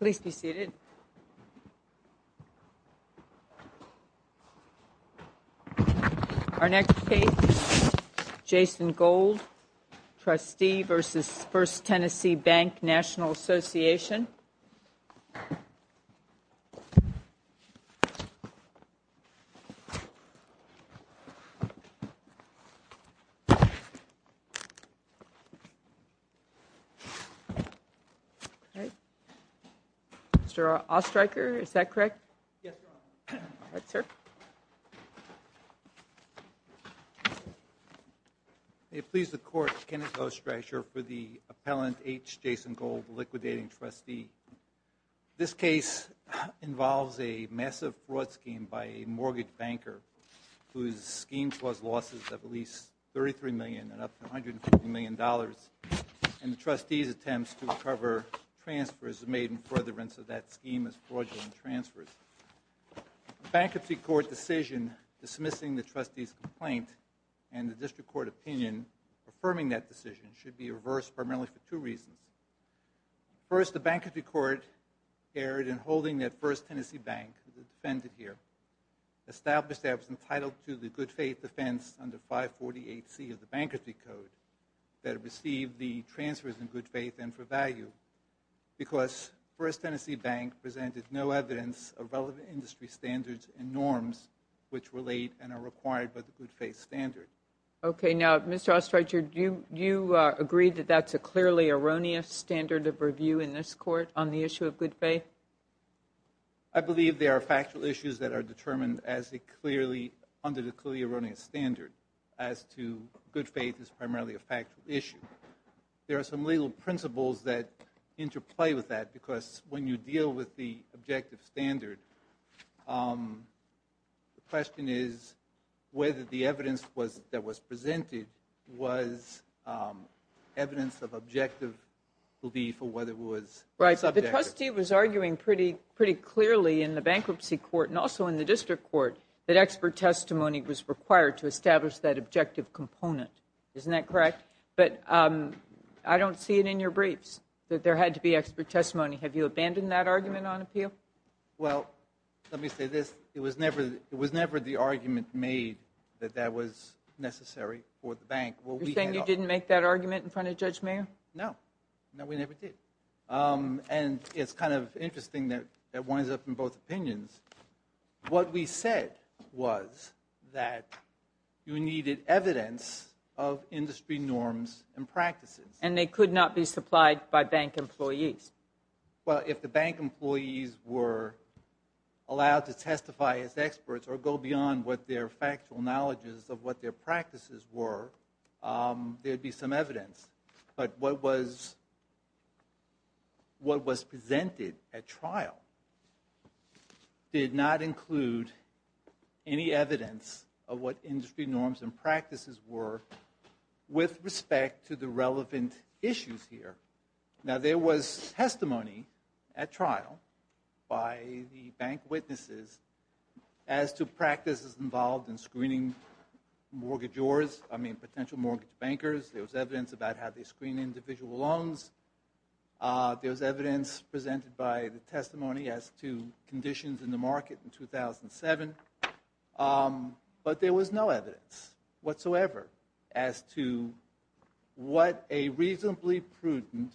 Please be seated. Our next case is Jason Gold, Trustee v. First Tennessee Bank National Association. Mr. Ostreicher, is that correct? Yes, Your Honor. All right, sir. May it please the Court, Kenneth Ostreicher for the appellant, H. Jason Gold, the liquidating trustee. This case involves a massive fraud scheme by a mortgage banker whose scheme caused losses of at least $33 million and up to $150 million. And the trustee's attempts to recover transfers are made in furtherance of that scheme as fraudulent transfers. The Bankruptcy Court decision dismissing the trustee's complaint and the District Court opinion affirming that decision should be reversed primarily for two reasons. First, the Bankruptcy Court erred in holding that First Tennessee Bank who is defended here, established that it was entitled to the good faith defense under 548C of the Bankruptcy Code that received the transfers in good faith and for value because First Tennessee Bank presented no evidence of relevant industry standards and norms which relate and are required by the good faith standard. Okay, now, Mr. Ostreicher, do you agree that that's a clearly erroneous standard of review in this Court on the issue of good faith? I believe there are factual issues that are determined as a clearly, under the clearly erroneous standard as to good faith is primarily a factual issue. There are some legal principles that interplay with that because when you deal with the objective standard, the question is whether the evidence that was presented was evidence of objective belief or whether it was subjective. The trustee was arguing pretty clearly in the Bankruptcy Court and also in the District Court that expert testimony was required to establish that objective component. Isn't that correct? But I don't see it in your briefs that there had to be expert testimony. Have you abandoned that argument on appeal? Well, let me say this. It was never the argument made that that was necessary for the Bank. You're saying you didn't make that argument in front of Judge Mayer? No. No, we never did. And it's kind of interesting that it winds up in both opinions. What we said was that you needed evidence of industry norms and practices. And they could not be supplied by bank employees. Well, if the bank employees were allowed to testify as experts or go beyond what their factual knowledges of what their practices were, there'd be some evidence. But what was presented at trial did not include any evidence of what industry norms and practices were with respect to the relevant issues here. Now, there was testimony at trial by the bank witnesses as to practices involved in screening mortgagors, I mean potential mortgage bankers. There was evidence about how they screen individual loans. There was evidence presented by the testimony as to conditions in the market in 2007. But there was no evidence whatsoever as to what a reasonably prudent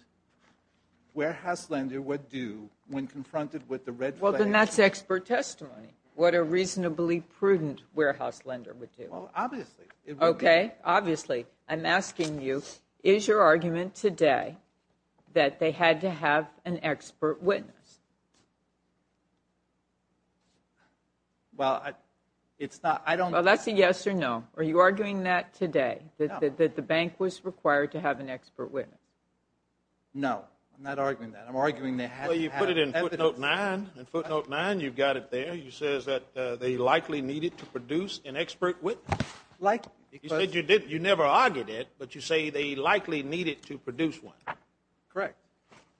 warehouse lender would do when confronted with the red flag issue. Well, then that's expert testimony, what a reasonably prudent warehouse lender would do. Well, obviously. Okay, obviously. I'm asking you, is your argument today that they had to have an expert witness? Well, it's not, I don't... Well, that's a yes or no. Are you arguing that today, that the bank was required to have an expert witness? No, I'm not arguing that. I'm arguing they had to have evidence. Well, you put it in footnote 9. In footnote 9, you've got it there. It says that they likely needed to produce an expert witness. Likely. You said you never argued it, but you say they likely needed to produce one. Correct.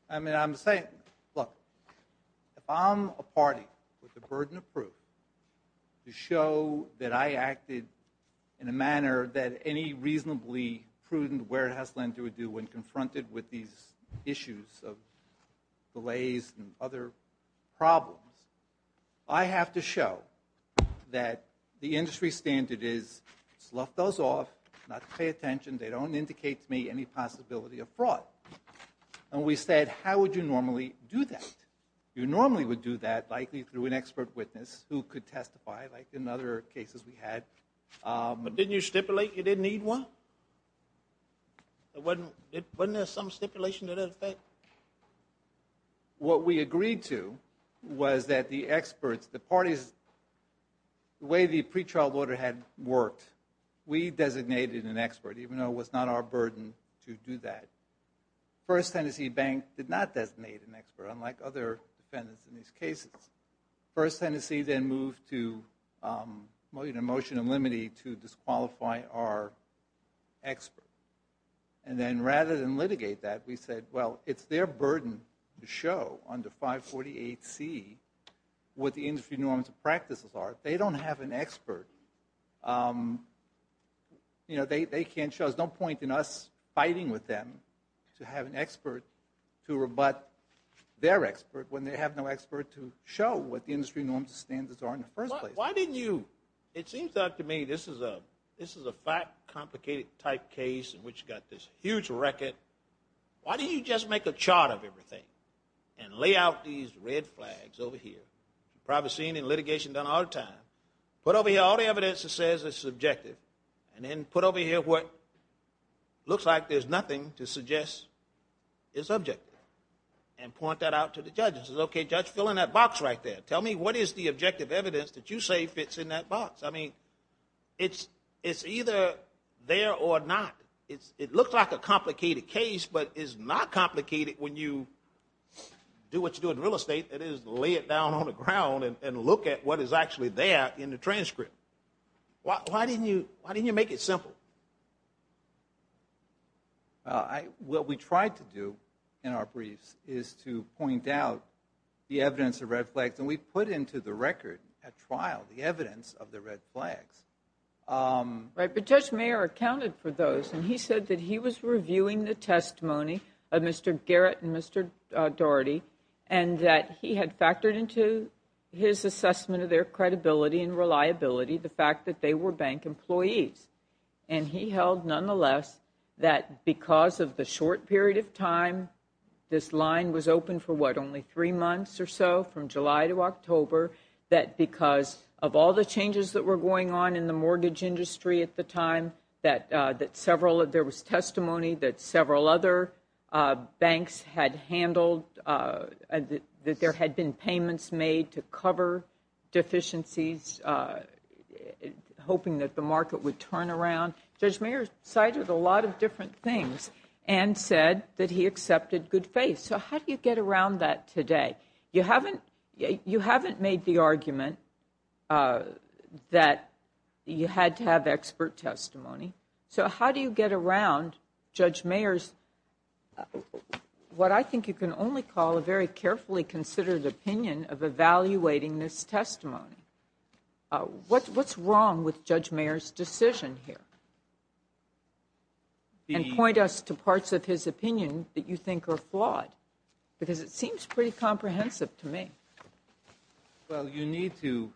I mean, I'm saying... Look, if I'm a party with the burden of proof to show that I acted in a manner that any reasonably prudent warehouse lender would do when confronted with these issues of delays and other problems, I have to show that the industry standard is, slough those off, not pay attention, they don't indicate to me any possibility of fraud. And we said, how would you normally do that? You normally would do that likely through an expert witness who could testify like in other cases we had. But didn't you stipulate you didn't need one? Wasn't there some stipulation to that effect? What we agreed to was that the experts, the parties, the way the pre-trial order had worked, we designated an expert, even though it was not our burden to do that. First Tennessee Bank did not designate an expert, unlike other defendants in these cases. First Tennessee then moved to a motion in limine to disqualify our expert. And then rather than litigate that, we said, well, it's their burden to show under 548C what the industry norms and practices are. If they don't have an expert, there's no point in us fighting with them to have an expert to rebut their expert when they have no expert to show what the industry norms and standards are in the first place. Why didn't you, it seems to me, this is a fact complicated type case in which you've got this huge record. Why didn't you just make a chart of everything and lay out these red flags over here? You've probably seen in litigation done all the time. Put over here all the evidence that says it's subjective and then put over here what looks like there's nothing to suggest is subjective and point that out to the judges. Okay, judge, fill in that box right there. Tell me what is the objective evidence that you say fits in that box. I mean, it's either there or not. It looks like a complicated case, but it's not complicated when you do what you do in real estate. It is lay it down on the ground and look at what is actually there in the transcript. Why didn't you make it simple? What we tried to do in our briefs is to point out the evidence of red flags, and we put into the record at trial the evidence of the red flags. Right, but Judge Mayer accounted for those, and he said that he was reviewing the testimony of Mr. Garrett and Mr. Daugherty and that he had factored into his assessment of their credibility and reliability the fact that they were bank employees. And he held, nonetheless, that because of the short period of time this line was open for, what, only three months or so, from July to October, that because of all the changes that were going on in the mortgage industry at the time that there was testimony that several other banks had handled, that there had been payments made to cover deficiencies, hoping that the market would turn around. Judge Mayer cited a lot of different things and said that he accepted good faith. So how do you get around that today? You haven't made the argument that you had to have expert testimony. So how do you get around Judge Mayer's, what I think you can only call a very carefully considered opinion of evaluating this testimony? What's wrong with Judge Mayer's decision here? And point us to parts of his opinion that you think are flawed, because it seems pretty comprehensive to me. Well, you need to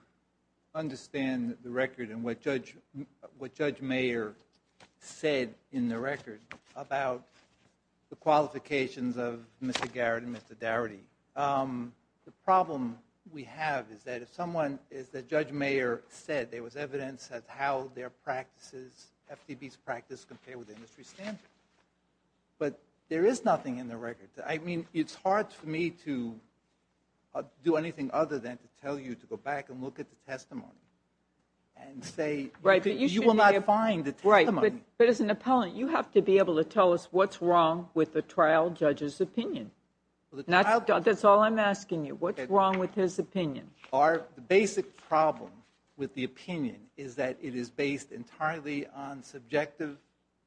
understand the record and what Judge Mayer said in the record about the qualifications of Mr. Garrett and Mr. Dougherty. The problem we have is that if someone, as Judge Mayer said, there was evidence of how their practices, FTB's practice, compared with the industry standard. But there is nothing in the record. I mean, it's hard for me to do anything other than to tell you to go back and look at the testimony and say you will not find the testimony. But as an appellant, you have to be able to tell us what's wrong with the trial judge's opinion. That's all I'm asking you. What's wrong with his opinion? Our basic problem with the opinion is that it is based entirely on subjective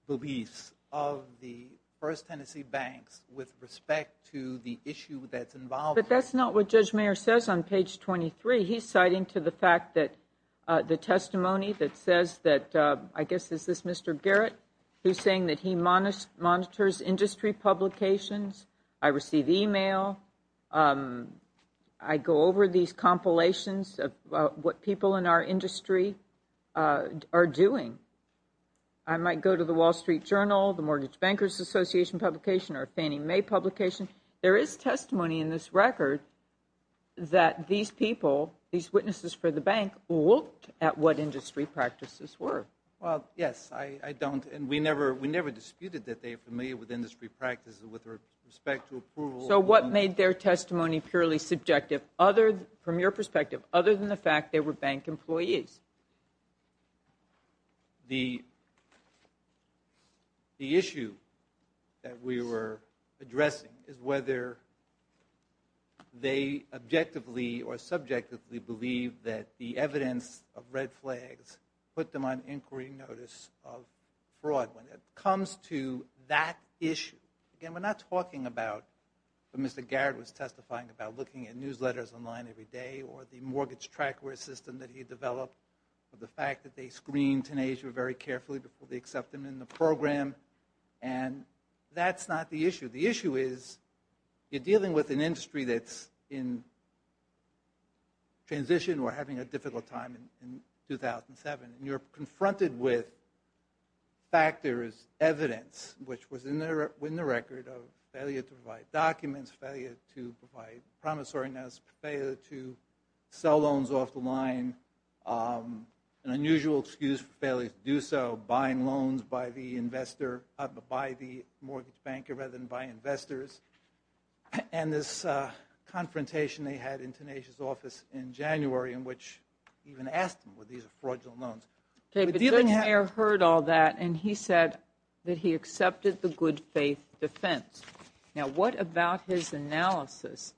beliefs of the First Tennessee Banks with respect to the issue that's involved. But that's not what Judge Mayer says on page 23. He's citing to the fact that the testimony that says that, I guess, is this Mr. Garrett? He's saying that he monitors industry publications. I receive email. I go over these compilations of what people in our industry are doing. I might go to the Wall Street Journal, the Mortgage Bankers Association publication, or Fannie Mae publication. There is testimony in this record that these people, these witnesses for the bank, looked at what industry practices were. Well, yes, I don't, and we never disputed that they were familiar with industry practices with respect to approval. So what made their testimony purely subjective from your perspective, other than the fact they were bank employees? The issue that we were addressing is whether they objectively or subjectively believe that the evidence of red flags put them on inquiry notice of fraud. When it comes to that issue, again, we're not talking about what Mr. Garrett was testifying about, looking at newsletters online every day or the mortgage track system that he developed, or the fact that they screened Tenasia very carefully before they accepted him in the program. And that's not the issue. The issue is you're dealing with an industry that's in transition or having a difficult time in 2007, and you're confronted with factors, evidence, which was in the record of failure to provide documents, failure to provide promissory notes, failure to sell loans off the line, an unusual excuse for failure to do so, buying loans by the investor, by the mortgage banker rather than by investors. And this confrontation they had in Tenasia's office in January in which he even asked them, well, these are fraudulent loans. David, Goodyear heard all that, and he said that he accepted the good faith defense. Now, what about his analysis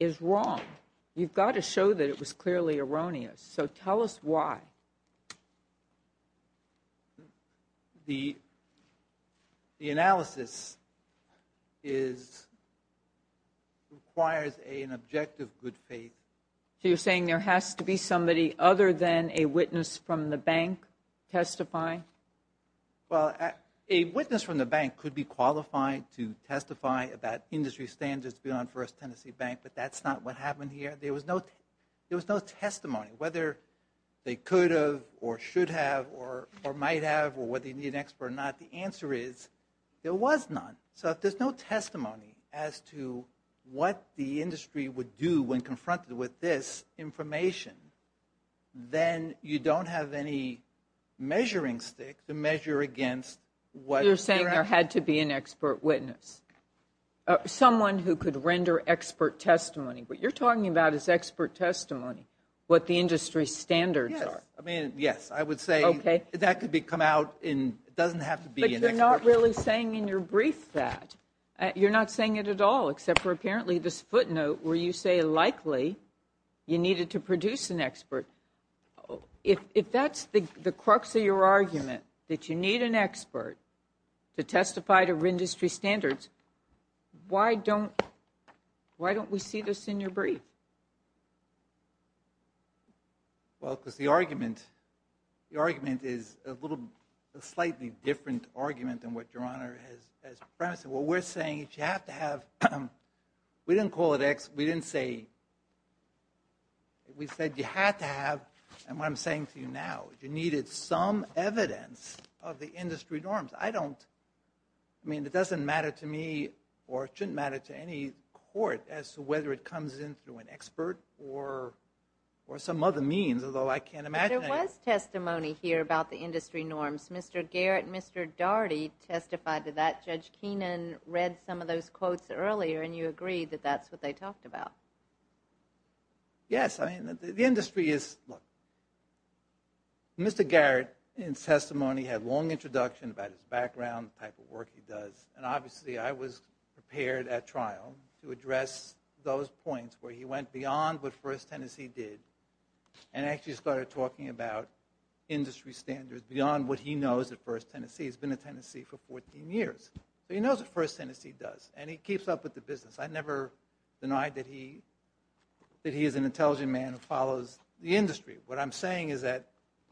is wrong? You've got to show that it was clearly erroneous, so tell us why. The analysis is... requires an objective good faith. So you're saying there has to be somebody other than a witness from the bank testifying? Well, a witness from the bank could be qualified to testify about industry standards beyond First Tennessee Bank, but that's not what happened here. There was no testimony whether they could have or should have or might have or whether you need an expert or not. The answer is there was none. So if there's no testimony as to what the industry would do when confronted with this information, then you don't have any measuring stick to measure against what... So you're saying there had to be an expert witness, someone who could render expert testimony. What you're talking about is expert testimony, what the industry standards are. Yes, I mean, yes, I would say that could come out and it doesn't have to be an expert. But you're not really saying in your brief that. You're not saying it at all, except for apparently this footnote where you say likely you needed to produce an expert. If that's the crux of your argument, that you need an expert to testify to industry standards, why don't we see this in your brief? Well, because the argument is a little... a slightly different argument than what Your Honor has premised. What we're saying is you have to have... We didn't call it... We didn't say... We said you had to have... And what I'm saying to you now, you needed some evidence of the industry norms. I don't... I mean, it doesn't matter to me or it shouldn't matter to any court as to whether it comes in through an expert or some other means, although I can't imagine... But there was testimony here about the industry norms. Mr. Garrett and Mr. Daugherty testified to that. Judge Keenan read some of those quotes earlier and you agreed that that's what they talked about. Yes, I mean, the industry is... Look, Mr. Garrett, in testimony, had a long introduction about his background, the type of work he does, and obviously I was prepared at trial to address those points where he went beyond what First Tennessee did and actually started talking about industry standards beyond what he knows at First Tennessee. He's been at Tennessee for 14 years. He knows what First Tennessee does and he keeps up with the business. I never denied that he... that he is an intelligent man who follows the industry. What I'm saying is that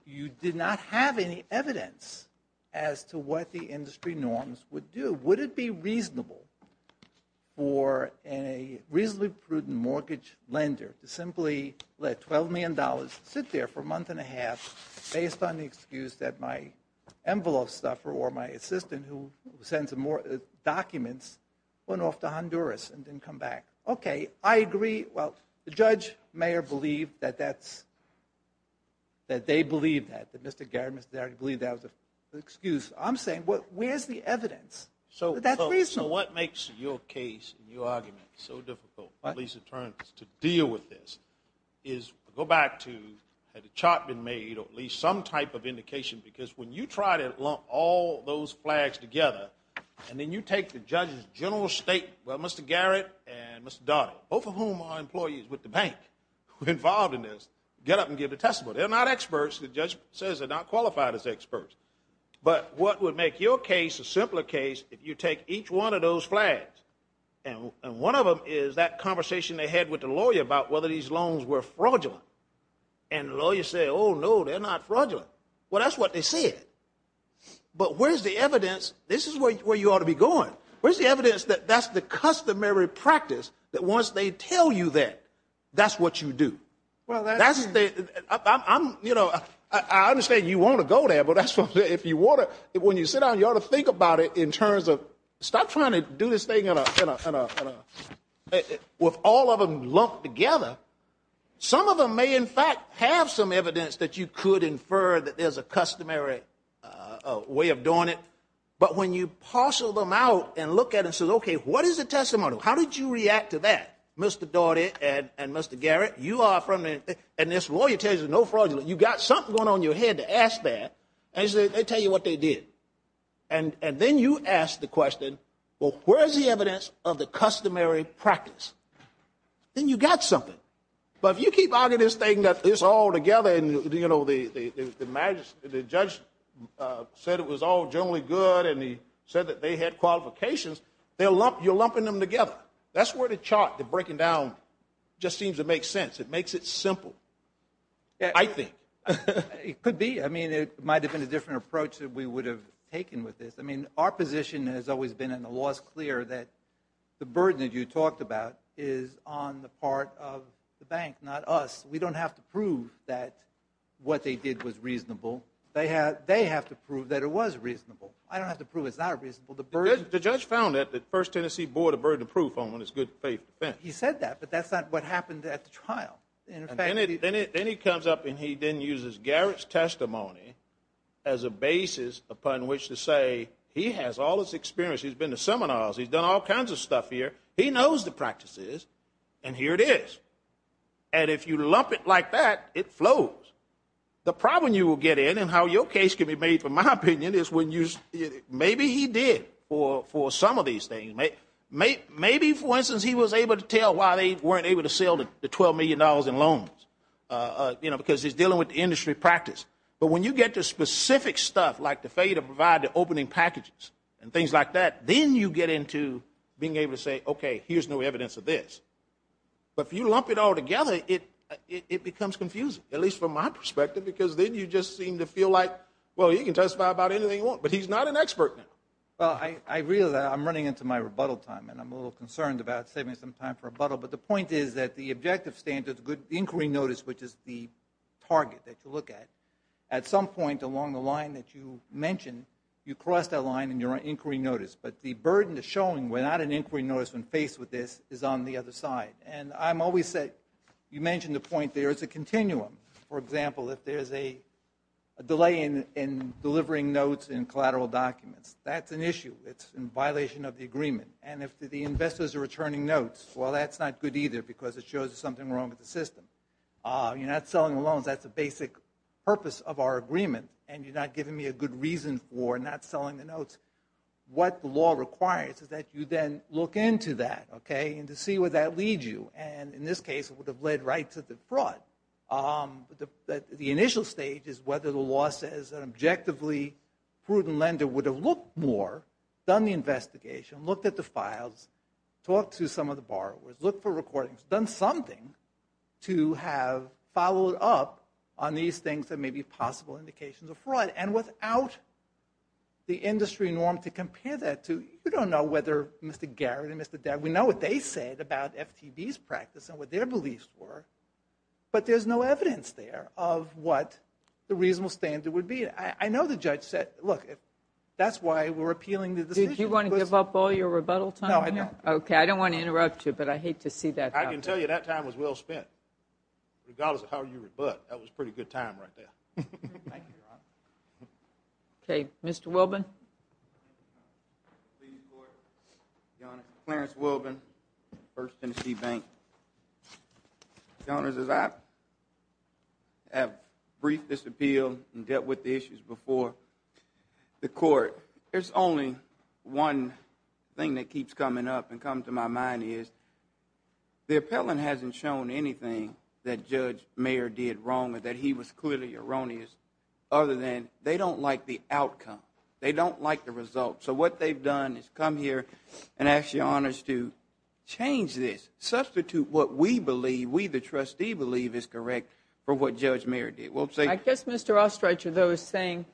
you did not have any evidence as to what the industry norms would do. Would it be reasonable for a reasonably prudent mortgage lender to simply let $12 million sit there for a month and a half based on the excuse that my envelope stuffer or my assistant who sends more documents went off to Honduras and didn't come back? Okay, I agree. Well, the judge, mayor believed that that's... that they believed that, that Mr. Garrett and Mr. Darity believed that was an excuse. I'm saying, where's the evidence that that's reasonable? So what makes your case and your argument so difficult, police attorneys, to deal with this is go back to had a chart been made or at least some type of indication because when you try to lump all those flags together and then you take the judge's general state... well, Mr. Garrett and Mr. Darity, both of whom are employees with the bank involved in this, get up and give a testimony. They're not experts. The judge says they're not qualified as experts. But what would make your case a simpler case if you take each one of those flags and one of them is that conversation they had with the lawyer about whether these loans were fraudulent and the lawyer said, oh, no, they're not fraudulent. Well, that's what they said. But where's the evidence? This is where you ought to be going. Where's the evidence that that's the customary practice, that once they tell you that, that's what you do? That's the... I understand you want to go there, but when you sit down, you ought to think about it in terms of, stop trying to do this thing with all of them lumped together. Some of them may in fact have some evidence that you could infer that there's a customary way of doing it. But when you parcel them out and look at it and say, okay, what is the testimony? How did you react to that, Mr. Daugherty and Mr. Garrett? You are from... And this lawyer tells you there's no fraudulent. You've got something going on in your head to ask that. They tell you what they did. And then you ask the question, well, where is the evidence of the customary practice? Then you've got something. But if you keep arguing this thing that it's all together and the judge said it was all generally good and he said that they had qualifications, you're lumping them together. That's where the chart, the breaking down, just seems to make sense. It makes it simple, I think. It could be. I mean, it might have been a different approach that we would have taken with this. I mean, our position has always been, and the law is clear, that the burden that you talked about is on the part of the bank, not us. We don't have to prove that what they did was reasonable. They have to prove that it was reasonable. I don't have to prove it's not reasonable. The judge found that the First Tennessee Board of Burden of Proof only has good faith defense. He said that, but that's not what happened at the trial. Then he comes up and he then uses Garrett's testimony as a basis upon which to say he has all this experience. He's been to seminars. He's done all kinds of stuff here. He knows the practices, and here it is. And if you lump it like that, it flows. The problem you will get in and how your case can be made, in my opinion, is maybe he did for some of these things. Maybe, for instance, he was able to tell why they weren't able to sell the $12 million in loans, because he's dealing with the industry practice. But when you get to specific stuff, like the failure to provide the opening packages and things like that, then you get into being able to say, okay, here's no evidence of this. But if you lump it all together, it becomes confusing, at least from my perspective, because then you just seem to feel like, well, you can testify about anything you want. But he's not an expert now. I realize I'm running into my rebuttal time, and I'm a little concerned about saving some time for rebuttal. But the point is that the objective standard, the inquiry notice, which is the target that you look at, at some point along the line that you mentioned, you cross that line and you're on inquiry notice. But the burden of showing we're not on inquiry notice when faced with this is on the other side. And I'm always saying, you mentioned the point there, it's a continuum. For example, if there's a delay in delivering notes and collateral documents, that's an issue. It's in violation of the agreement. And if the investors are returning notes, well, that's not good either because it shows there's something wrong with the system. You're not selling the loans, that's the basic purpose of our agreement, and you're not giving me a good reason for not selling the notes. What the law requires is that you then look into that, okay, and to see where that leads you. And in this case, it would have led right to the fraud. The initial stage is whether the law says an objectively prudent lender would have looked more, done the investigation, looked at the files, talked to some of the borrowers, looked for recordings, done something to have followed up on these things that may be possible indications of fraud. And without the industry norm to compare that to, you don't know whether Mr. Garrett and Mr. Debb, we know what they said about FTB's practice and what their beliefs were, but there's no evidence there of what the reasonable standard would be. I know the judge said, look, that's why we're appealing the decision. Did you want to give up all your rebuttal time? No, I don't. Okay, I don't want to interrupt you, but I hate to see that happen. I can tell you that time was well spent, regardless of how you rebut. That was a pretty good time right there. Thank you, Your Honor. Okay, Mr. Wilbin. Clarence Wilbin, First Tennessee Bank. Your Honors, as I have briefed this appeal and dealt with the issues before the court, there's only one thing that keeps coming up and comes to my mind, and that is the appellant hasn't shown anything that Judge Mayer did wrong or that he was clearly erroneous other than they don't like the outcome. They don't like the result. So what they've done is come here and ask Your Honors to change this, substitute what we believe, we the trustee believe, is correct for what Judge Mayer did. I guess Mr. Ostrich, though, is saying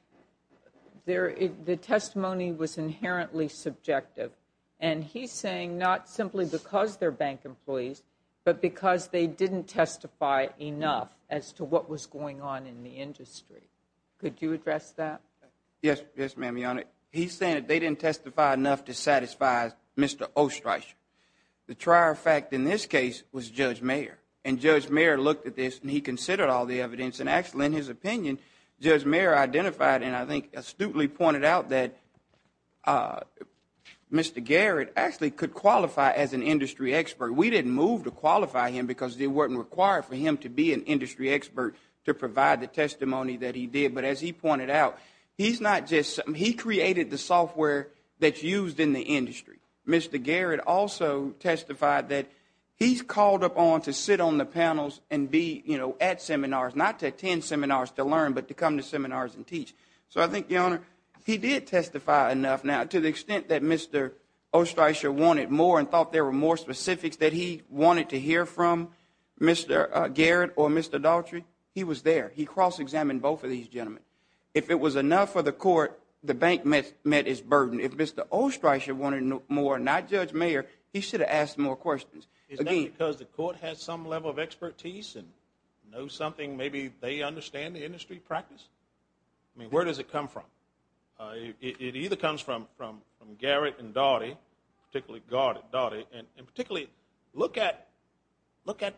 the testimony was inherently subjective, and he's saying not simply because they're bank employees, but because they didn't testify enough as to what was going on in the industry. Could you address that? Yes, ma'am, Your Honor. He's saying that they didn't testify enough to satisfy Mr. Ostrich. The trier fact in this case was Judge Mayer, and Judge Mayer looked at this and he considered all the evidence, and actually, in his opinion, Judge Mayer identified and I think astutely pointed out that Mr. Garrett actually could qualify as an industry expert. We didn't move to qualify him because it wasn't required for him to be an industry expert to provide the testimony that he did. But as he pointed out, he created the software that's used in the industry. Mr. Garrett also testified that he's called upon to sit on the panels and be at seminars, not to attend seminars to learn, but to come to seminars and teach. So I think, Your Honor, he did testify enough. Now, to the extent that Mr. Ostrich wanted more and thought there were more specifics that he wanted to hear from Mr. Garrett or Mr. Daughtry, he was there. He cross-examined both of these gentlemen. If it was enough for the court, the bank met its burden. If Mr. Ostrich wanted more and not Judge Mayer, he should have asked more questions. Is that because the court has some level of expertise and knows something? Maybe they understand the industry practice? I mean, where does it come from? It either comes from Garrett and Daughtry, particularly Daughtry, and particularly look at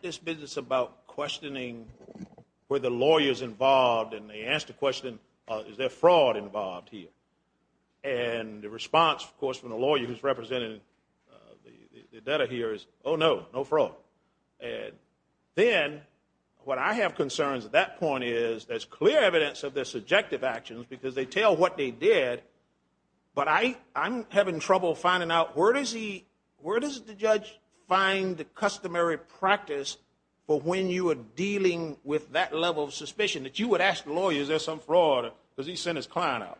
this business about questioning where the lawyer is involved and they ask the question, is there fraud involved here? And the response, of course, from the lawyer who's representing the debtor here is, oh, no, no fraud. And then what I have concerns at that point is there's clear evidence of their subjective actions because they tell what they did, but I'm having trouble finding out where does the judge find the customary practice for when you are dealing with that level of suspicion, that you would ask the lawyer, is there some fraud because he sent his client out?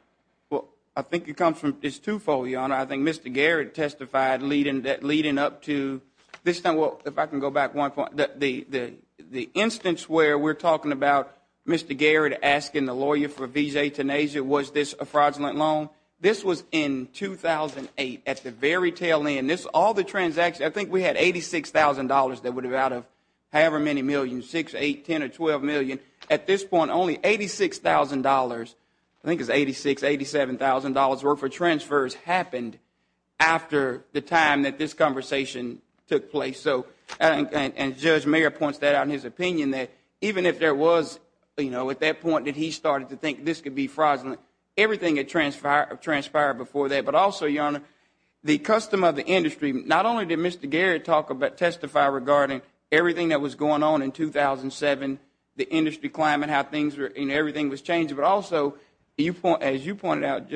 Well, I think it comes from this twofold, Your Honor. I think Mr. Garrett testified leading up to this time. Well, if I can go back one point. The instance where we're talking about Mr. Garrett asking the lawyer for visae tenasia, was this a fraudulent loan? This was in 2008 at the very tail end. All the transactions, I think we had $86,000 that would have been out of however many millions, 6, 8, 10, or 12 million. At this point, only $86,000, I think it was $86,000, $87,000 worth of transfers happened after the time that this conversation took place. And Judge Mayer points that out in his opinion, that even if there was at that point that he started to think this could be fraudulent, everything had transpired before that. But also, Your Honor, the custom of the industry, not only did Mr. Garrett testify regarding everything that was going on in 2007, the industry climate, how everything was changing, but also, as you pointed out,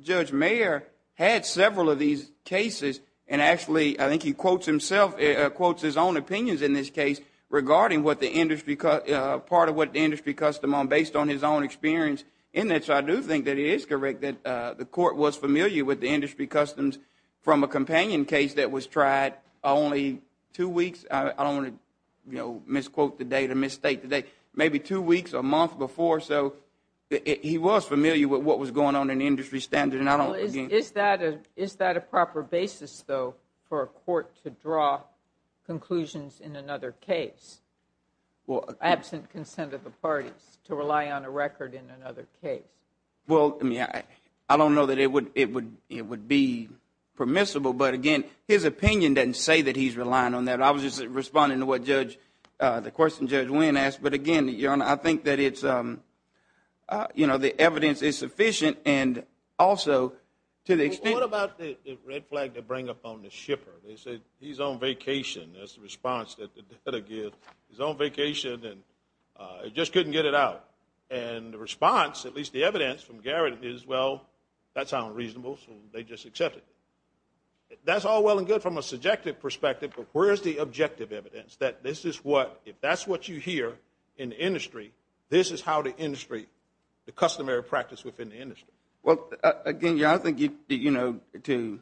Judge Mayer had several of these cases and actually I think he quotes himself, quotes his own opinions in this case, regarding part of what the industry custom on based on his own experience in this. I do think that it is correct that the court was familiar with the industry customs from a companion case that was tried only two weeks. I don't want to misquote the date or misstate the date. Maybe two weeks or a month before. So he was familiar with what was going on in the industry standard. Is that a proper basis, though, for a court to draw conclusions in another case, absent consent of the parties, to rely on a record in another case? Well, I don't know that it would be permissible, but, again, his opinion doesn't say that he's relying on that. I was just responding to what Judge, the question Judge Wynn asked, but, again, Your Honor, I think that it's, you know, the evidence is sufficient and also to the extent. What about the red flag they bring up on the shipper? They say he's on vacation. That's the response that the debtor gives. He's on vacation and just couldn't get it out. And the response, at least the evidence from Garrett is, well, that sounds reasonable, so they just accept it. That's all well and good from a subjective perspective, but where is the objective evidence that this is what, if that's what you hear in the industry, this is how the industry, the customary practice within the industry? Well, again, Your Honor, I think, you know, to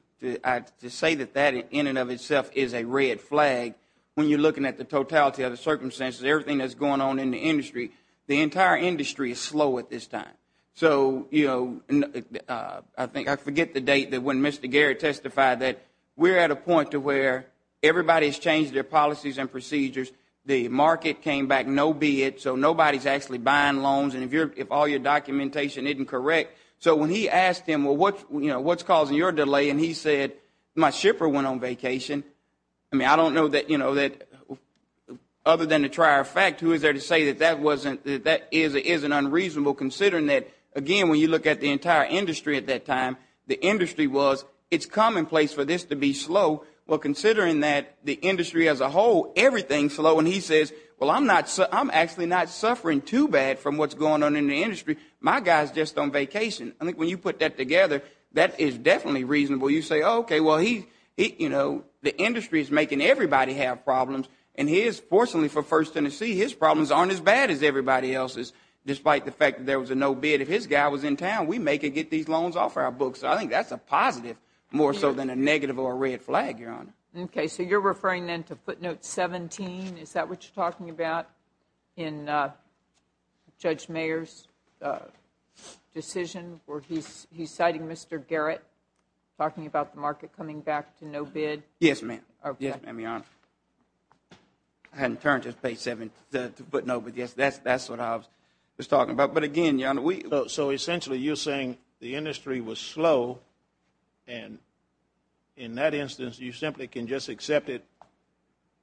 say that that in and of itself is a red flag, when you're looking at the totality of the circumstances, everything that's going on in the industry, the entire industry is slow at this time. So, you know, I think I forget the date that when Mr. Garrett testified that we're at a point to where everybody's changed their policies and procedures, the market came back no bid, so nobody's actually buying loans, and if all your documentation isn't correct. So when he asked him, well, what's causing your delay? And he said, my shipper went on vacation. I mean, I don't know that, you know, other than the trier of fact, who is there to say that that isn't unreasonable, considering that, again, when you look at the entire industry at that time, the industry was, it's commonplace for this to be slow. Well, considering that the industry as a whole, everything's slow, and he says, well, I'm actually not suffering too bad from what's going on in the industry. My guy's just on vacation. I think when you put that together, that is definitely reasonable. You say, okay, well, he, you know, the industry is making everybody have problems, and fortunately for First Tennessee, his problems aren't as bad as everybody else's, despite the fact that there was a no bid. If his guy was in town, we make or get these loans off our books. So I think that's a positive more so than a negative or a red flag, Your Honor. Okay, so you're referring, then, to footnote 17. Is that what you're talking about in Judge Mayer's decision where he's citing Mr. Garrett, talking about the market coming back to no bid? Yes, ma'am. Okay. Yes, ma'am, Your Honor. I hadn't turned to footnote 17, but, yes, that's what I was talking about. But, again, Your Honor, we So essentially you're saying the industry was slow, and in that instance you simply can just accept it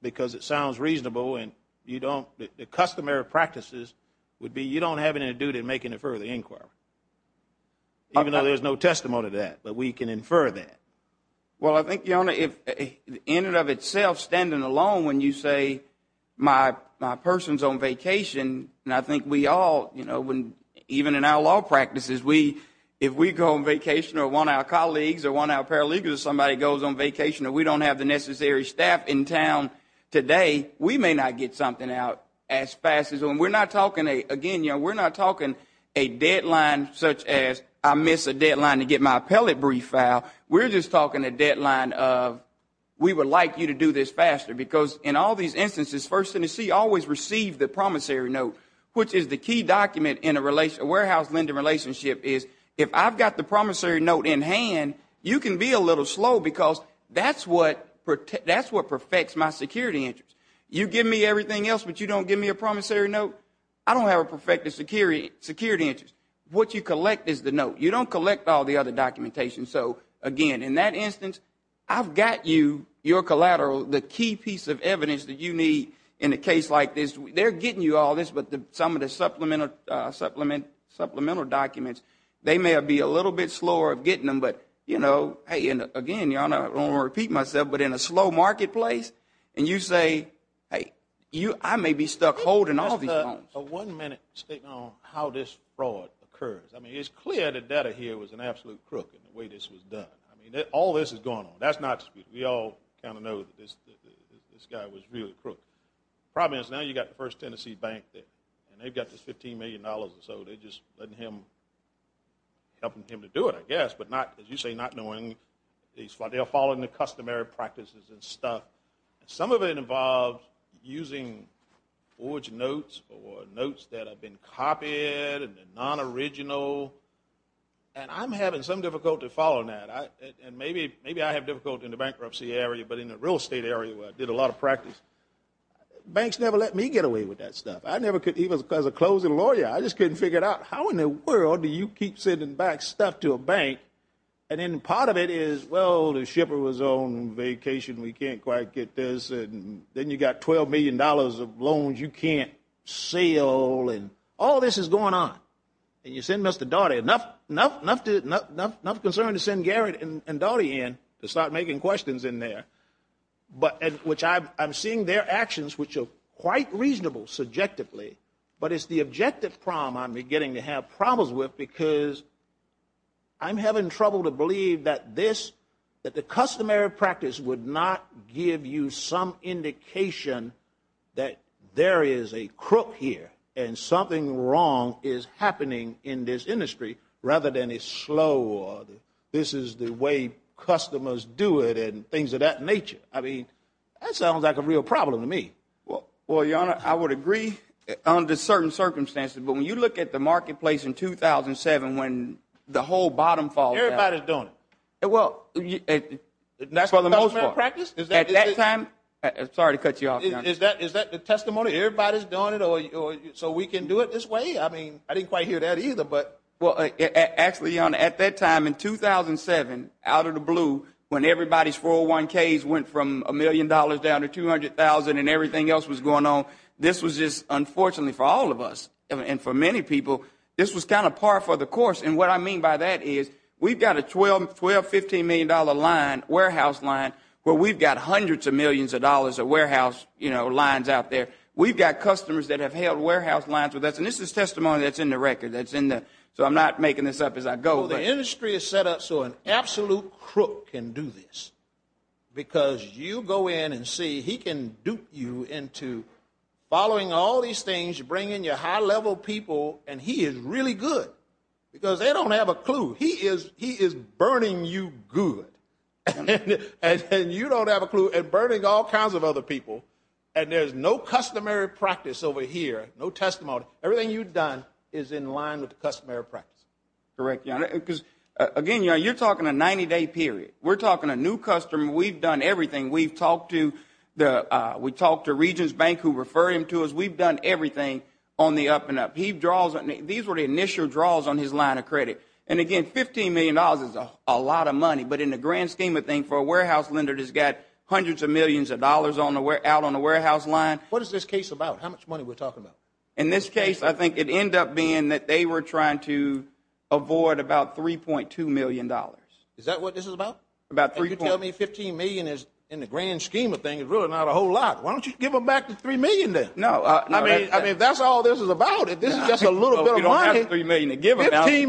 because it sounds reasonable and you don't, the customary practices would be you don't have anything to do to make an infer the inquiry, even though there's no testimony to that, but we can infer that. Well, I think, Your Honor, in and of itself, standing alone when you say my person's on vacation, I think we all, even in our law practices, if we go on vacation or one of our colleagues or one of our paralegals or somebody goes on vacation and we don't have the necessary staff in town today, we may not get something out as fast as when we're not talking, again, Your Honor, we're not talking a deadline such as I missed a deadline to get my appellate brief filed. We're just talking a deadline of we would like you to do this faster because in all these instances, First Tennessee always received the promissory note, which is the key document in a warehouse lending relationship is if I've got the promissory note in hand, you can be a little slow because that's what perfects my security interest. You give me everything else, but you don't give me a promissory note? I don't have a perfected security interest. What you collect is the note. You don't collect all the other documentation. So, again, in that instance, I've got you, your collateral, the key piece of evidence that you need in a case like this. They're getting you all this, but some of the supplemental documents, they may be a little bit slower of getting them. But, you know, again, Your Honor, I don't want to repeat myself, but in a slow marketplace and you say, hey, I may be stuck holding all these loans. Just a one-minute statement on how this fraud occurs. I mean, it's clear the debtor here was an absolute crook in the way this was done. I mean, all this is going on. We all kind of know that this guy was really a crook. The problem is now you've got the First Tennessee Bank, and they've got this $15 million or so. They're just letting him, helping him to do it, I guess, but not, as you say, not knowing. They're following the customary practices and stuff. Some of it involves using forged notes or notes that have been copied and non-original, and I'm having some difficulty following that. And maybe I have difficulty in the bankruptcy area, but in the real estate area where I did a lot of practice, banks never let me get away with that stuff. I never could, even as a closing lawyer. I just couldn't figure it out. How in the world do you keep sending back stuff to a bank? And then part of it is, well, the shipper was on vacation. We can't quite get this. Then you've got $12 million of loans you can't sell. All this is going on. And you send Mr. Daugherty enough concern to send Garrett and Daugherty in to start making questions in there, which I'm seeing their actions, which are quite reasonable subjectively, but it's the objective problem I'm beginning to have problems with because I'm having trouble to believe that this, that the customary practice would not give you some indication that there is a crook here and something wrong is happening in this industry rather than a slow, this is the way customers do it and things of that nature. I mean, that sounds like a real problem to me. Well, Your Honor, I would agree under certain circumstances, but when you look at the marketplace in 2007 when the whole bottom falls out. Everybody is doing it. Well, for the most part. That's the customary practice? At that time, sorry to cut you off, Your Honor. Is that the testimony? Everybody is doing it so we can do it this way? I mean, I didn't quite hear that either. Well, actually, Your Honor, at that time in 2007, out of the blue, when everybody's 401Ks went from $1 million down to $200,000 and everything else was going on, this was just unfortunately for all of us and for many people, this was kind of par for the course. And what I mean by that is we've got a $12, $15 million line, warehouse line, where we've got hundreds of millions of dollars of warehouse lines out there. We've got customers that have held warehouse lines with us, and this is testimony that's in the record. So I'm not making this up as I go. Well, the industry is set up so an absolute crook can do this because you go in and see he can dupe you into following all these things, bringing you high-level people, and he is really good because they don't have a clue. He is burning you good. And you don't have a clue, and burning all kinds of other people, and there's no customary practice over here, no testimony. Everything you've done is in line with the customary practice. Correct, Your Honor, because, again, Your Honor, you're talking a 90-day period. We're talking a new customer. We've done everything. We've talked to Regents Bank who refer him to us. We've done everything on the up and up. These were the initial draws on his line of credit. And, again, $15 million is a lot of money, but in the grand scheme of things for a warehouse lender that's got hundreds of millions of dollars out on the warehouse line. What is this case about? How much money are we talking about? In this case, I think it ended up being that they were trying to avoid about $3.2 million. Is that what this is about? About $3.2 million. And you tell me $15 million in the grand scheme of things is really not a whole lot. Why don't you give them back the $3 million then? No. I mean, if that's all this is about, if this is just a little bit of money, $15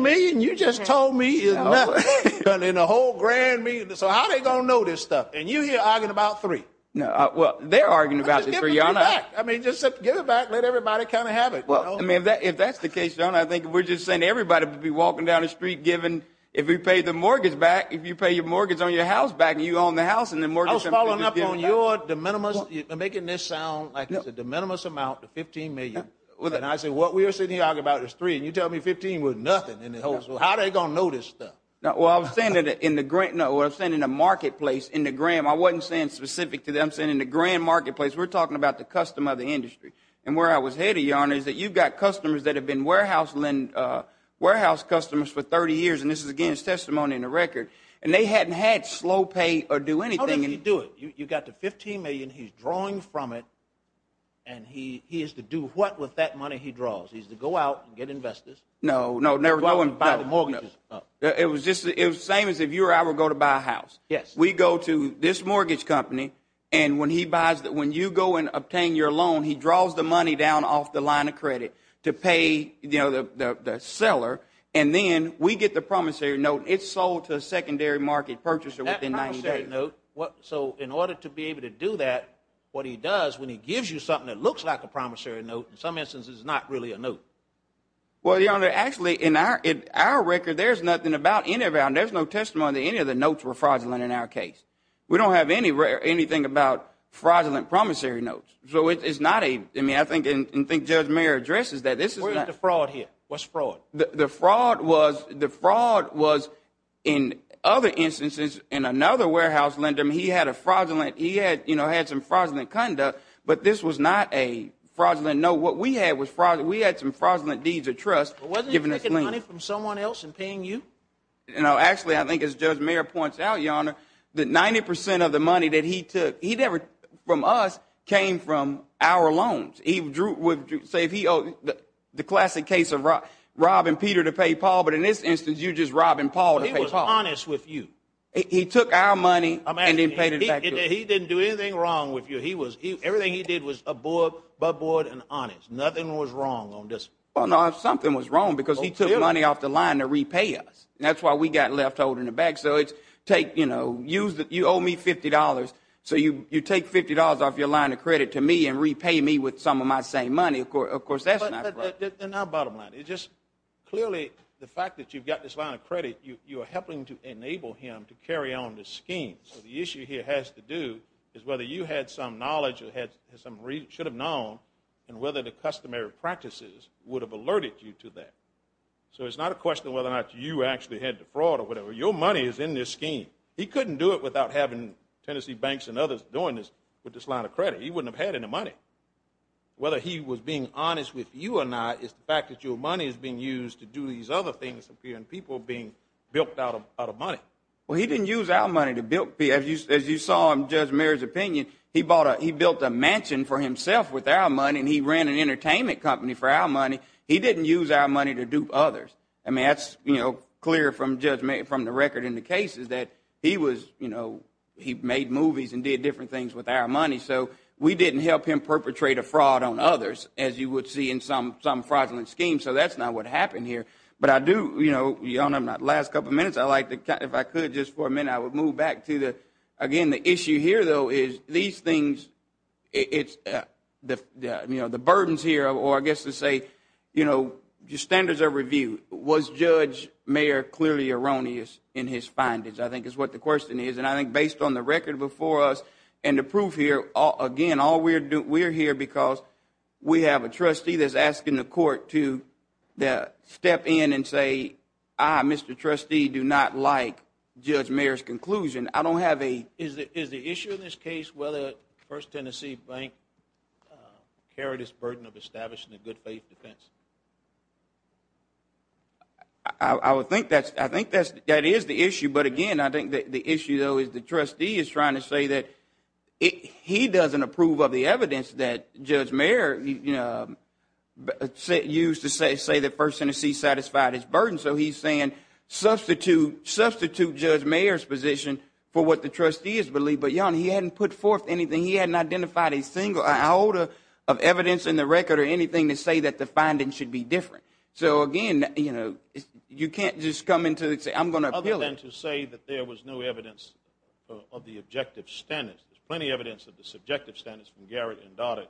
million, you just told me is nothing. In a whole grand meeting. So how are they going to know this stuff? And you're here arguing about $3. Well, they're arguing about the $3. Just give it back. I mean, just give it back. Let everybody kind of have it. I mean, if that's the case, John, I think we're just saying everybody would be walking down the street giving. If you pay your mortgage on your house back, you own the house. I was following up on your de minimis, making this sound like it's a de minimis amount, the $15 million. And I said what we were sitting here arguing about is $3. And you tell me $15 was nothing. How are they going to know this stuff? Well, I was saying in the marketplace, in the grand, I wasn't saying specific to them. I'm saying in the grand marketplace, we're talking about the custom of the industry. And where I was headed, Your Honor, is that you've got customers that have been warehouse customers for 30 years, and this is, again, his testimony in the record. And they hadn't had slow pay or do anything. How did he do it? You got the $15 million. He's drawing from it. And he is to do what with that money he draws? He's to go out and get investors. No, no, never going to buy the mortgages. It was the same as if you or I were going to buy a house. Yes. We go to this mortgage company, and when he buys, when you go and obtain your loan, he draws the money down off the line of credit to pay, you know, the seller. And then we get the promissory note. It's sold to a secondary market purchaser within 90 days. That promissory note, so in order to be able to do that, what he does when he gives you something that looks like a promissory note, in some instances, is not really a note. Well, Your Honor, actually, in our record, there's nothing about any of that. There's no testimony that any of the notes were fraudulent in our case. We don't have anything about fraudulent promissory notes. So it's not a, I mean, I think Judge Mayer addresses that. Where is the fraud here? What's fraud? The fraud was, in other instances, in another warehouse lender, he had a fraudulent, he had, you know, had some fraudulent conduct, but this was not a fraudulent note. So what we had was fraudulent, we had some fraudulent deeds of trust. But wasn't he taking money from someone else and paying you? You know, actually, I think as Judge Mayer points out, Your Honor, that 90 percent of the money that he took, he never, from us, came from our loans. He drew, say, if he owed, the classic case of robbing Peter to pay Paul, but in this instance, you're just robbing Paul to pay Paul. But he was honest with you. He took our money and then paid it back to us. He didn't do anything wrong with you. Everything he did was above board and honest. Nothing was wrong on this. Well, no, something was wrong because he took money off the line to repay us. That's why we got left holding the bag. So it's take, you know, you owe me $50, so you take $50 off your line of credit to me and repay me with some of my same money. Of course, that's not right. Then our bottom line is just clearly the fact that you've got this line of credit, you are helping to enable him to carry on the scheme. So the issue here has to do is whether you had some knowledge or had some reason, should have known, and whether the customary practices would have alerted you to that. So it's not a question of whether or not you actually had the fraud or whatever. Your money is in this scheme. He couldn't do it without having Tennessee banks and others doing this with this line of credit. He wouldn't have had any money. Whether he was being honest with you or not is the fact that your money is being used to do these other things for people being bilked out of money. Well, he didn't use our money to bilk people. As you saw in Judge Mayer's opinion, he built a mansion for himself with our money, and he ran an entertainment company for our money. He didn't use our money to dupe others. I mean, that's clear from the record in the cases that he made movies and did different things with our money. So we didn't help him perpetrate a fraud on others, as you would see in some fraudulent schemes. So that's not what happened here. Your Honor, in the last couple of minutes, if I could, just for a minute, I would move back to, again, the issue here, though, is these things, the burdens here, or I guess to say your standards are reviewed. Was Judge Mayer clearly erroneous in his findings, I think is what the question is. And I think based on the record before us and the proof here, again, all we're here because we have a trustee that's asking the court to step in and say, I, Mr. Trustee, do not like Judge Mayer's conclusion. I don't have a ---- Is the issue in this case whether First Tennessee Bank carried its burden of establishing a good faith defense? I think that is the issue. But, again, I think the issue, though, is the trustee is trying to say that he doesn't approve of the evidence that Judge Mayer used to say that First Tennessee satisfied its burden. So he's saying substitute Judge Mayer's position for what the trustees believe. But, Your Honor, he hadn't put forth anything. He hadn't identified a single iota of evidence in the record or anything to say that the findings should be different. So, again, you can't just come in and say, I'm going to appeal it. Other than to say that there was no evidence of the objective standards. There's plenty of evidence of the subjective standards from Garrett and Doddick.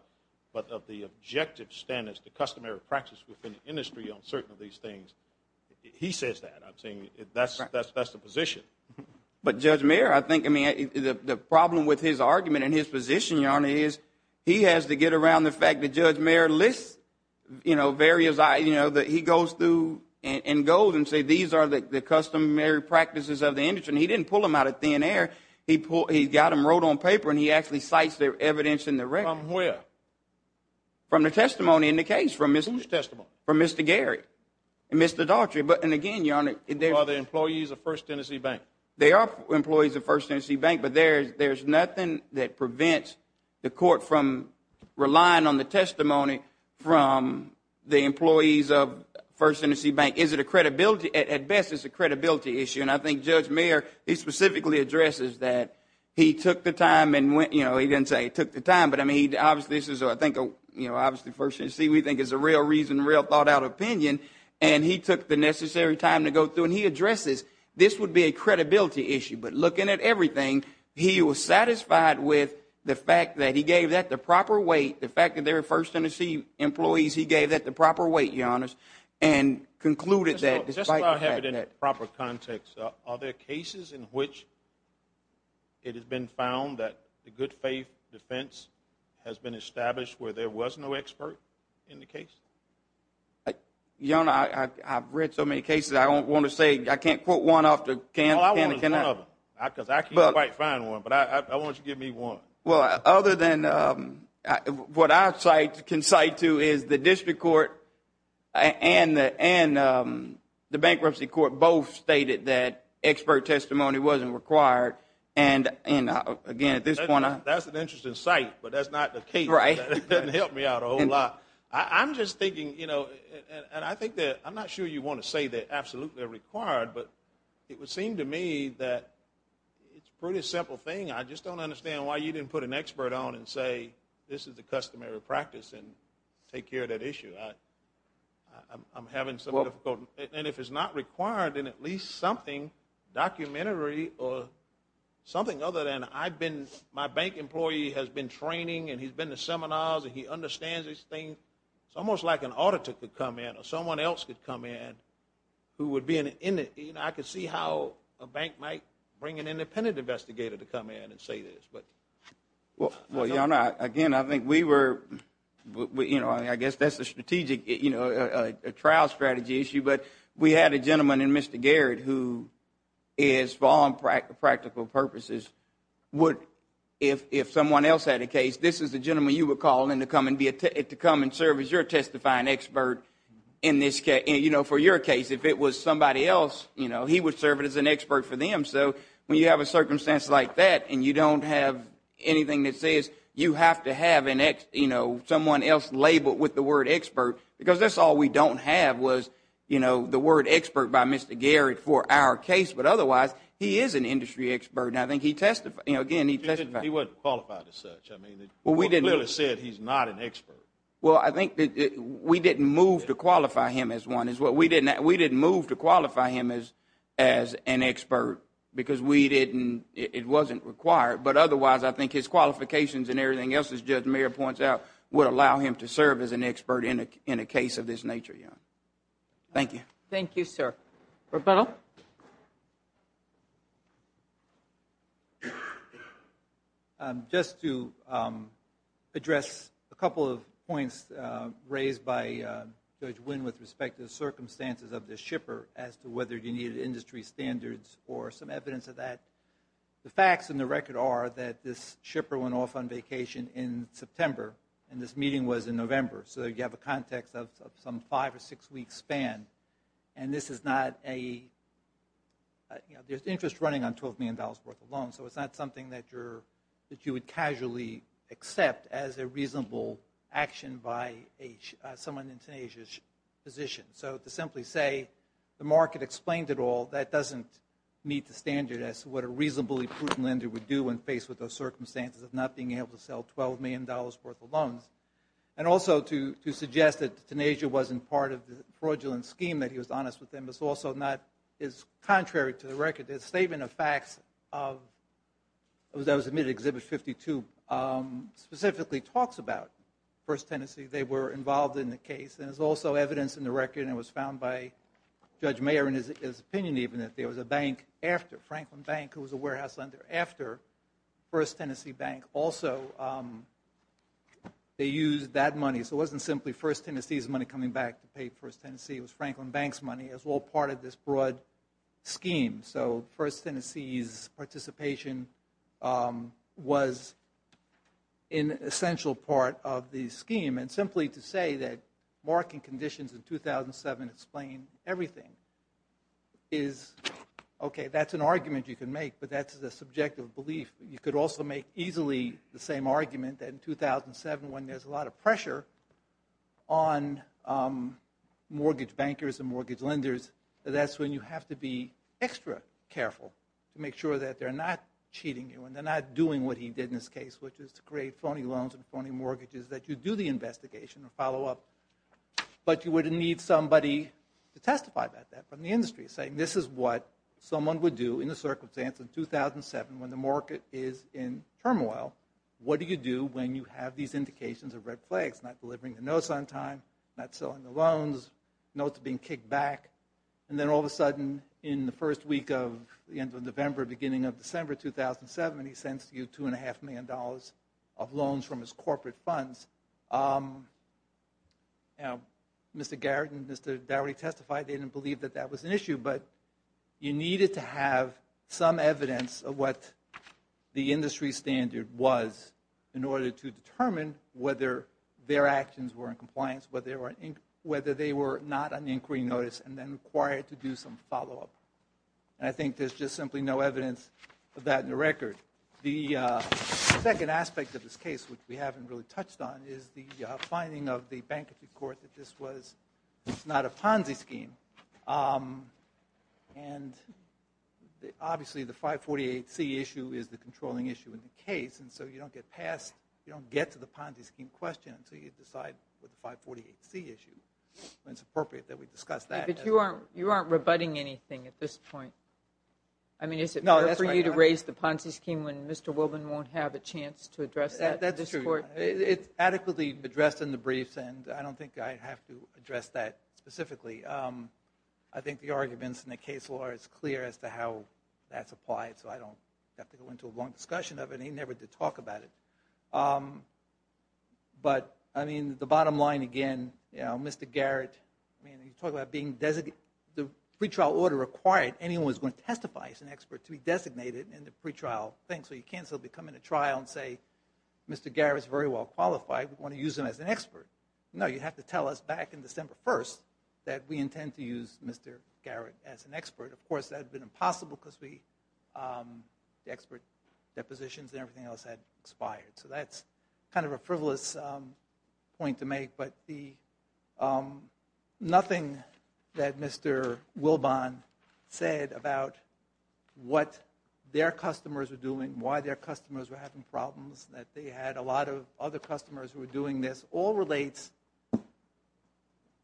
But of the objective standards, the customary practice within the industry on certain of these things, he says that. I'm saying that's the position. But Judge Mayer, I think, I mean, the problem with his argument and his position, Your Honor, is he has to get around the fact that Judge Mayer lists, you know, various, you know, that he goes through and goes and says these are the customary practices of the industry. And he didn't pull them out of thin air. He got them wrote on paper, and he actually cites their evidence in the record. From where? From the testimony in the case. From whose testimony? From Mr. Garrett and Mr. Doddick. And, again, Your Honor, there's... Who are the employees of First Tennessee Bank? They are employees of First Tennessee Bank. But there's nothing that prevents the court from relying on the testimony from the employees of First Tennessee Bank. Is it a credibility? At best, it's a credibility issue. And I think Judge Mayer, he specifically addresses that. He took the time and went, you know, he didn't say he took the time, but, I mean, obviously this is, I think, you know, obviously First Tennessee, we think it's a real reason, a real thought-out opinion, and he took the necessary time to go through. And he addresses this would be a credibility issue. But looking at everything, he was satisfied with the fact that he gave that the proper weight, the fact that they're First Tennessee employees, he gave that the proper weight, Your Honor, and concluded that despite... Just so I have it in the proper context, are there cases in which it has been found that the good faith defense has been established where there was no expert in the case? Your Honor, I've read so many cases, I don't want to say, I can't quote one off the can... All I want is one of them, because I can't quite find one, but I want you to give me one. Well, other than what I can cite to is the district court and the bankruptcy court both stated that expert testimony wasn't required. And, again, at this point... That's an interesting cite, but that's not the case. Right. That doesn't help me out a whole lot. I'm just thinking, you know, and I think that, I'm not sure you want to say they're absolutely required, but it would seem to me that it's a pretty simple thing. I just don't understand why you didn't put an expert on and say, this is a customary practice and take care of that issue. I'm having some difficulty. And if it's not required, then at least something documentary or something other than I've been, my bank employee has been training and he's been to seminars and he understands these things. It's almost like an auditor could come in or someone else could come in who would be an... I could see how a bank might bring an independent investigator to come in and say this. Well, again, I think we were... I guess that's a strategic trial strategy issue, but we had a gentleman in Mr. Garrett who is, for all practical purposes, would, if someone else had a case, this is the gentleman you would call in to come and serve as your testifying expert in this case. I mean, for your case, if it was somebody else, he would serve as an expert for them. So when you have a circumstance like that and you don't have anything that says you have to have someone else labeled with the word expert, because that's all we don't have was the word expert by Mr. Garrett for our case. But otherwise, he is an industry expert, and I think he testified. He wasn't qualified as such. You clearly said he's not an expert. Well, I think we didn't move to qualify him as one. We didn't move to qualify him as an expert because it wasn't required. But otherwise, I think his qualifications and everything else, as Judge Mayer points out, would allow him to serve as an expert in a case of this nature. Thank you. Thank you, sir. Roberto? Roberto? Just to address a couple of points raised by Judge Wynn with respect to the circumstances of this shipper as to whether you needed industry standards or some evidence of that. The facts in the record are that this shipper went off on vacation in September, and this meeting was in November. So you have a context of some five- or six-week span. And this is not a – there's interest running on $12 million worth of loans, so it's not something that you would casually accept as a reasonable action by someone in Tunisia's position. So to simply say the market explained it all, that doesn't meet the standards as to what a reasonably prudent lender would do when faced with those circumstances of not being able to sell $12 million worth of loans. And also to suggest that Tunisia wasn't part of the fraudulent scheme, that he was honest with them, is also not – is contrary to the record. The statement of facts that was admitted in Exhibit 52 specifically talks about First Tennessee. They were involved in the case. And there's also evidence in the record, and it was found by Judge Mayer in his opinion even, that there was a bank after – Franklin Bank, who was a warehouse lender, after First Tennessee Bank also – they used that money. So it wasn't simply First Tennessee's money coming back to pay First Tennessee. It was Franklin Bank's money as well, part of this broad scheme. So First Tennessee's participation was an essential part of the scheme. And simply to say that market conditions in 2007 explain everything is – you could also make easily the same argument that in 2007, when there's a lot of pressure on mortgage bankers and mortgage lenders, that that's when you have to be extra careful to make sure that they're not cheating you and they're not doing what he did in this case, which is to create phony loans and phony mortgages, that you do the investigation and follow up. But you would need somebody to testify about that from the industry, saying this is what someone would do in a circumstance in 2007 when the market is in turmoil. What do you do when you have these indications of red flags? Not delivering the notes on time, not selling the loans, notes being kicked back. And then all of a sudden in the first week of the end of November, beginning of December 2007, he sends you $2.5 million of loans from his corporate funds. Now, Mr. Garrett and Mr. Dowry testified they didn't believe that that was an issue, but you needed to have some evidence of what the industry standard was in order to determine whether their actions were in compliance, whether they were not on inquiry notice and then required to do some follow-up. And I think there's just simply no evidence of that in the record. The second aspect of this case, which we haven't really touched on, is the finding of the bankruptcy court that this was not a Ponzi scheme. And obviously the 548C issue is the controlling issue in the case, and so you don't get to the Ponzi scheme question until you decide with the 548C issue. And it's appropriate that we discuss that. But you aren't rebutting anything at this point. I mean, is it fair for you to raise the Ponzi scheme when Mr. Wilbin won't have a chance to address that in this court? That's true. It's adequately addressed in the briefs, and I don't think I'd have to address that specifically. I think the arguments in the case law are as clear as to how that's applied, so I don't have to go into a long discussion of it. He never did talk about it. But, I mean, the bottom line, again, Mr. Garrett, when you talk about the pretrial order required, anyone who's going to testify as an expert to be designated in the pretrial thing, so you can't simply come into trial and say, Mr. Garrett's very well qualified, we want to use him as an expert. No, you have to tell us back in December 1st that we intend to use Mr. Garrett as an expert. Of course, that would have been impossible because the expert depositions and everything else had expired. So that's kind of a frivolous point to make. But nothing that Mr. Wilbon said about what their customers were doing, why their customers were having problems, that they had a lot of other customers who were doing this, all relates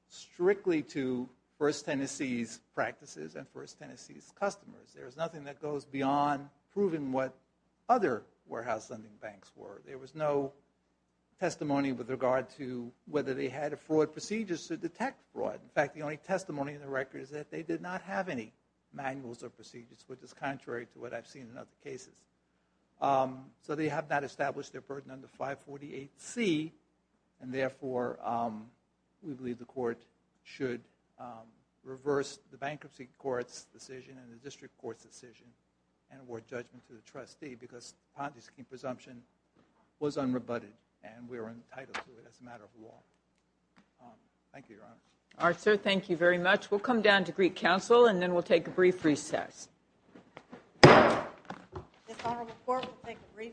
strictly to First Tennessee's practices and First Tennessee's customers. There's nothing that goes beyond proving what other warehouse lending banks were. There was no testimony with regard to whether they had a fraud procedure to detect fraud. In fact, the only testimony in the record is that they did not have any manuals or procedures, which is contrary to what I've seen in other cases. So they have not established their burden under 548C, and therefore we believe the court should reverse the bankruptcy court's decision and the district court's decision and award judgment to the trustee because the Ponte scheme presumption was unrebutted, and we were entitled to it as a matter of law. Thank you, Your Honor. All right, sir. Thank you very much. We'll come down to Greek Council, and then we'll take a brief recess. This honorable court will take a brief recess.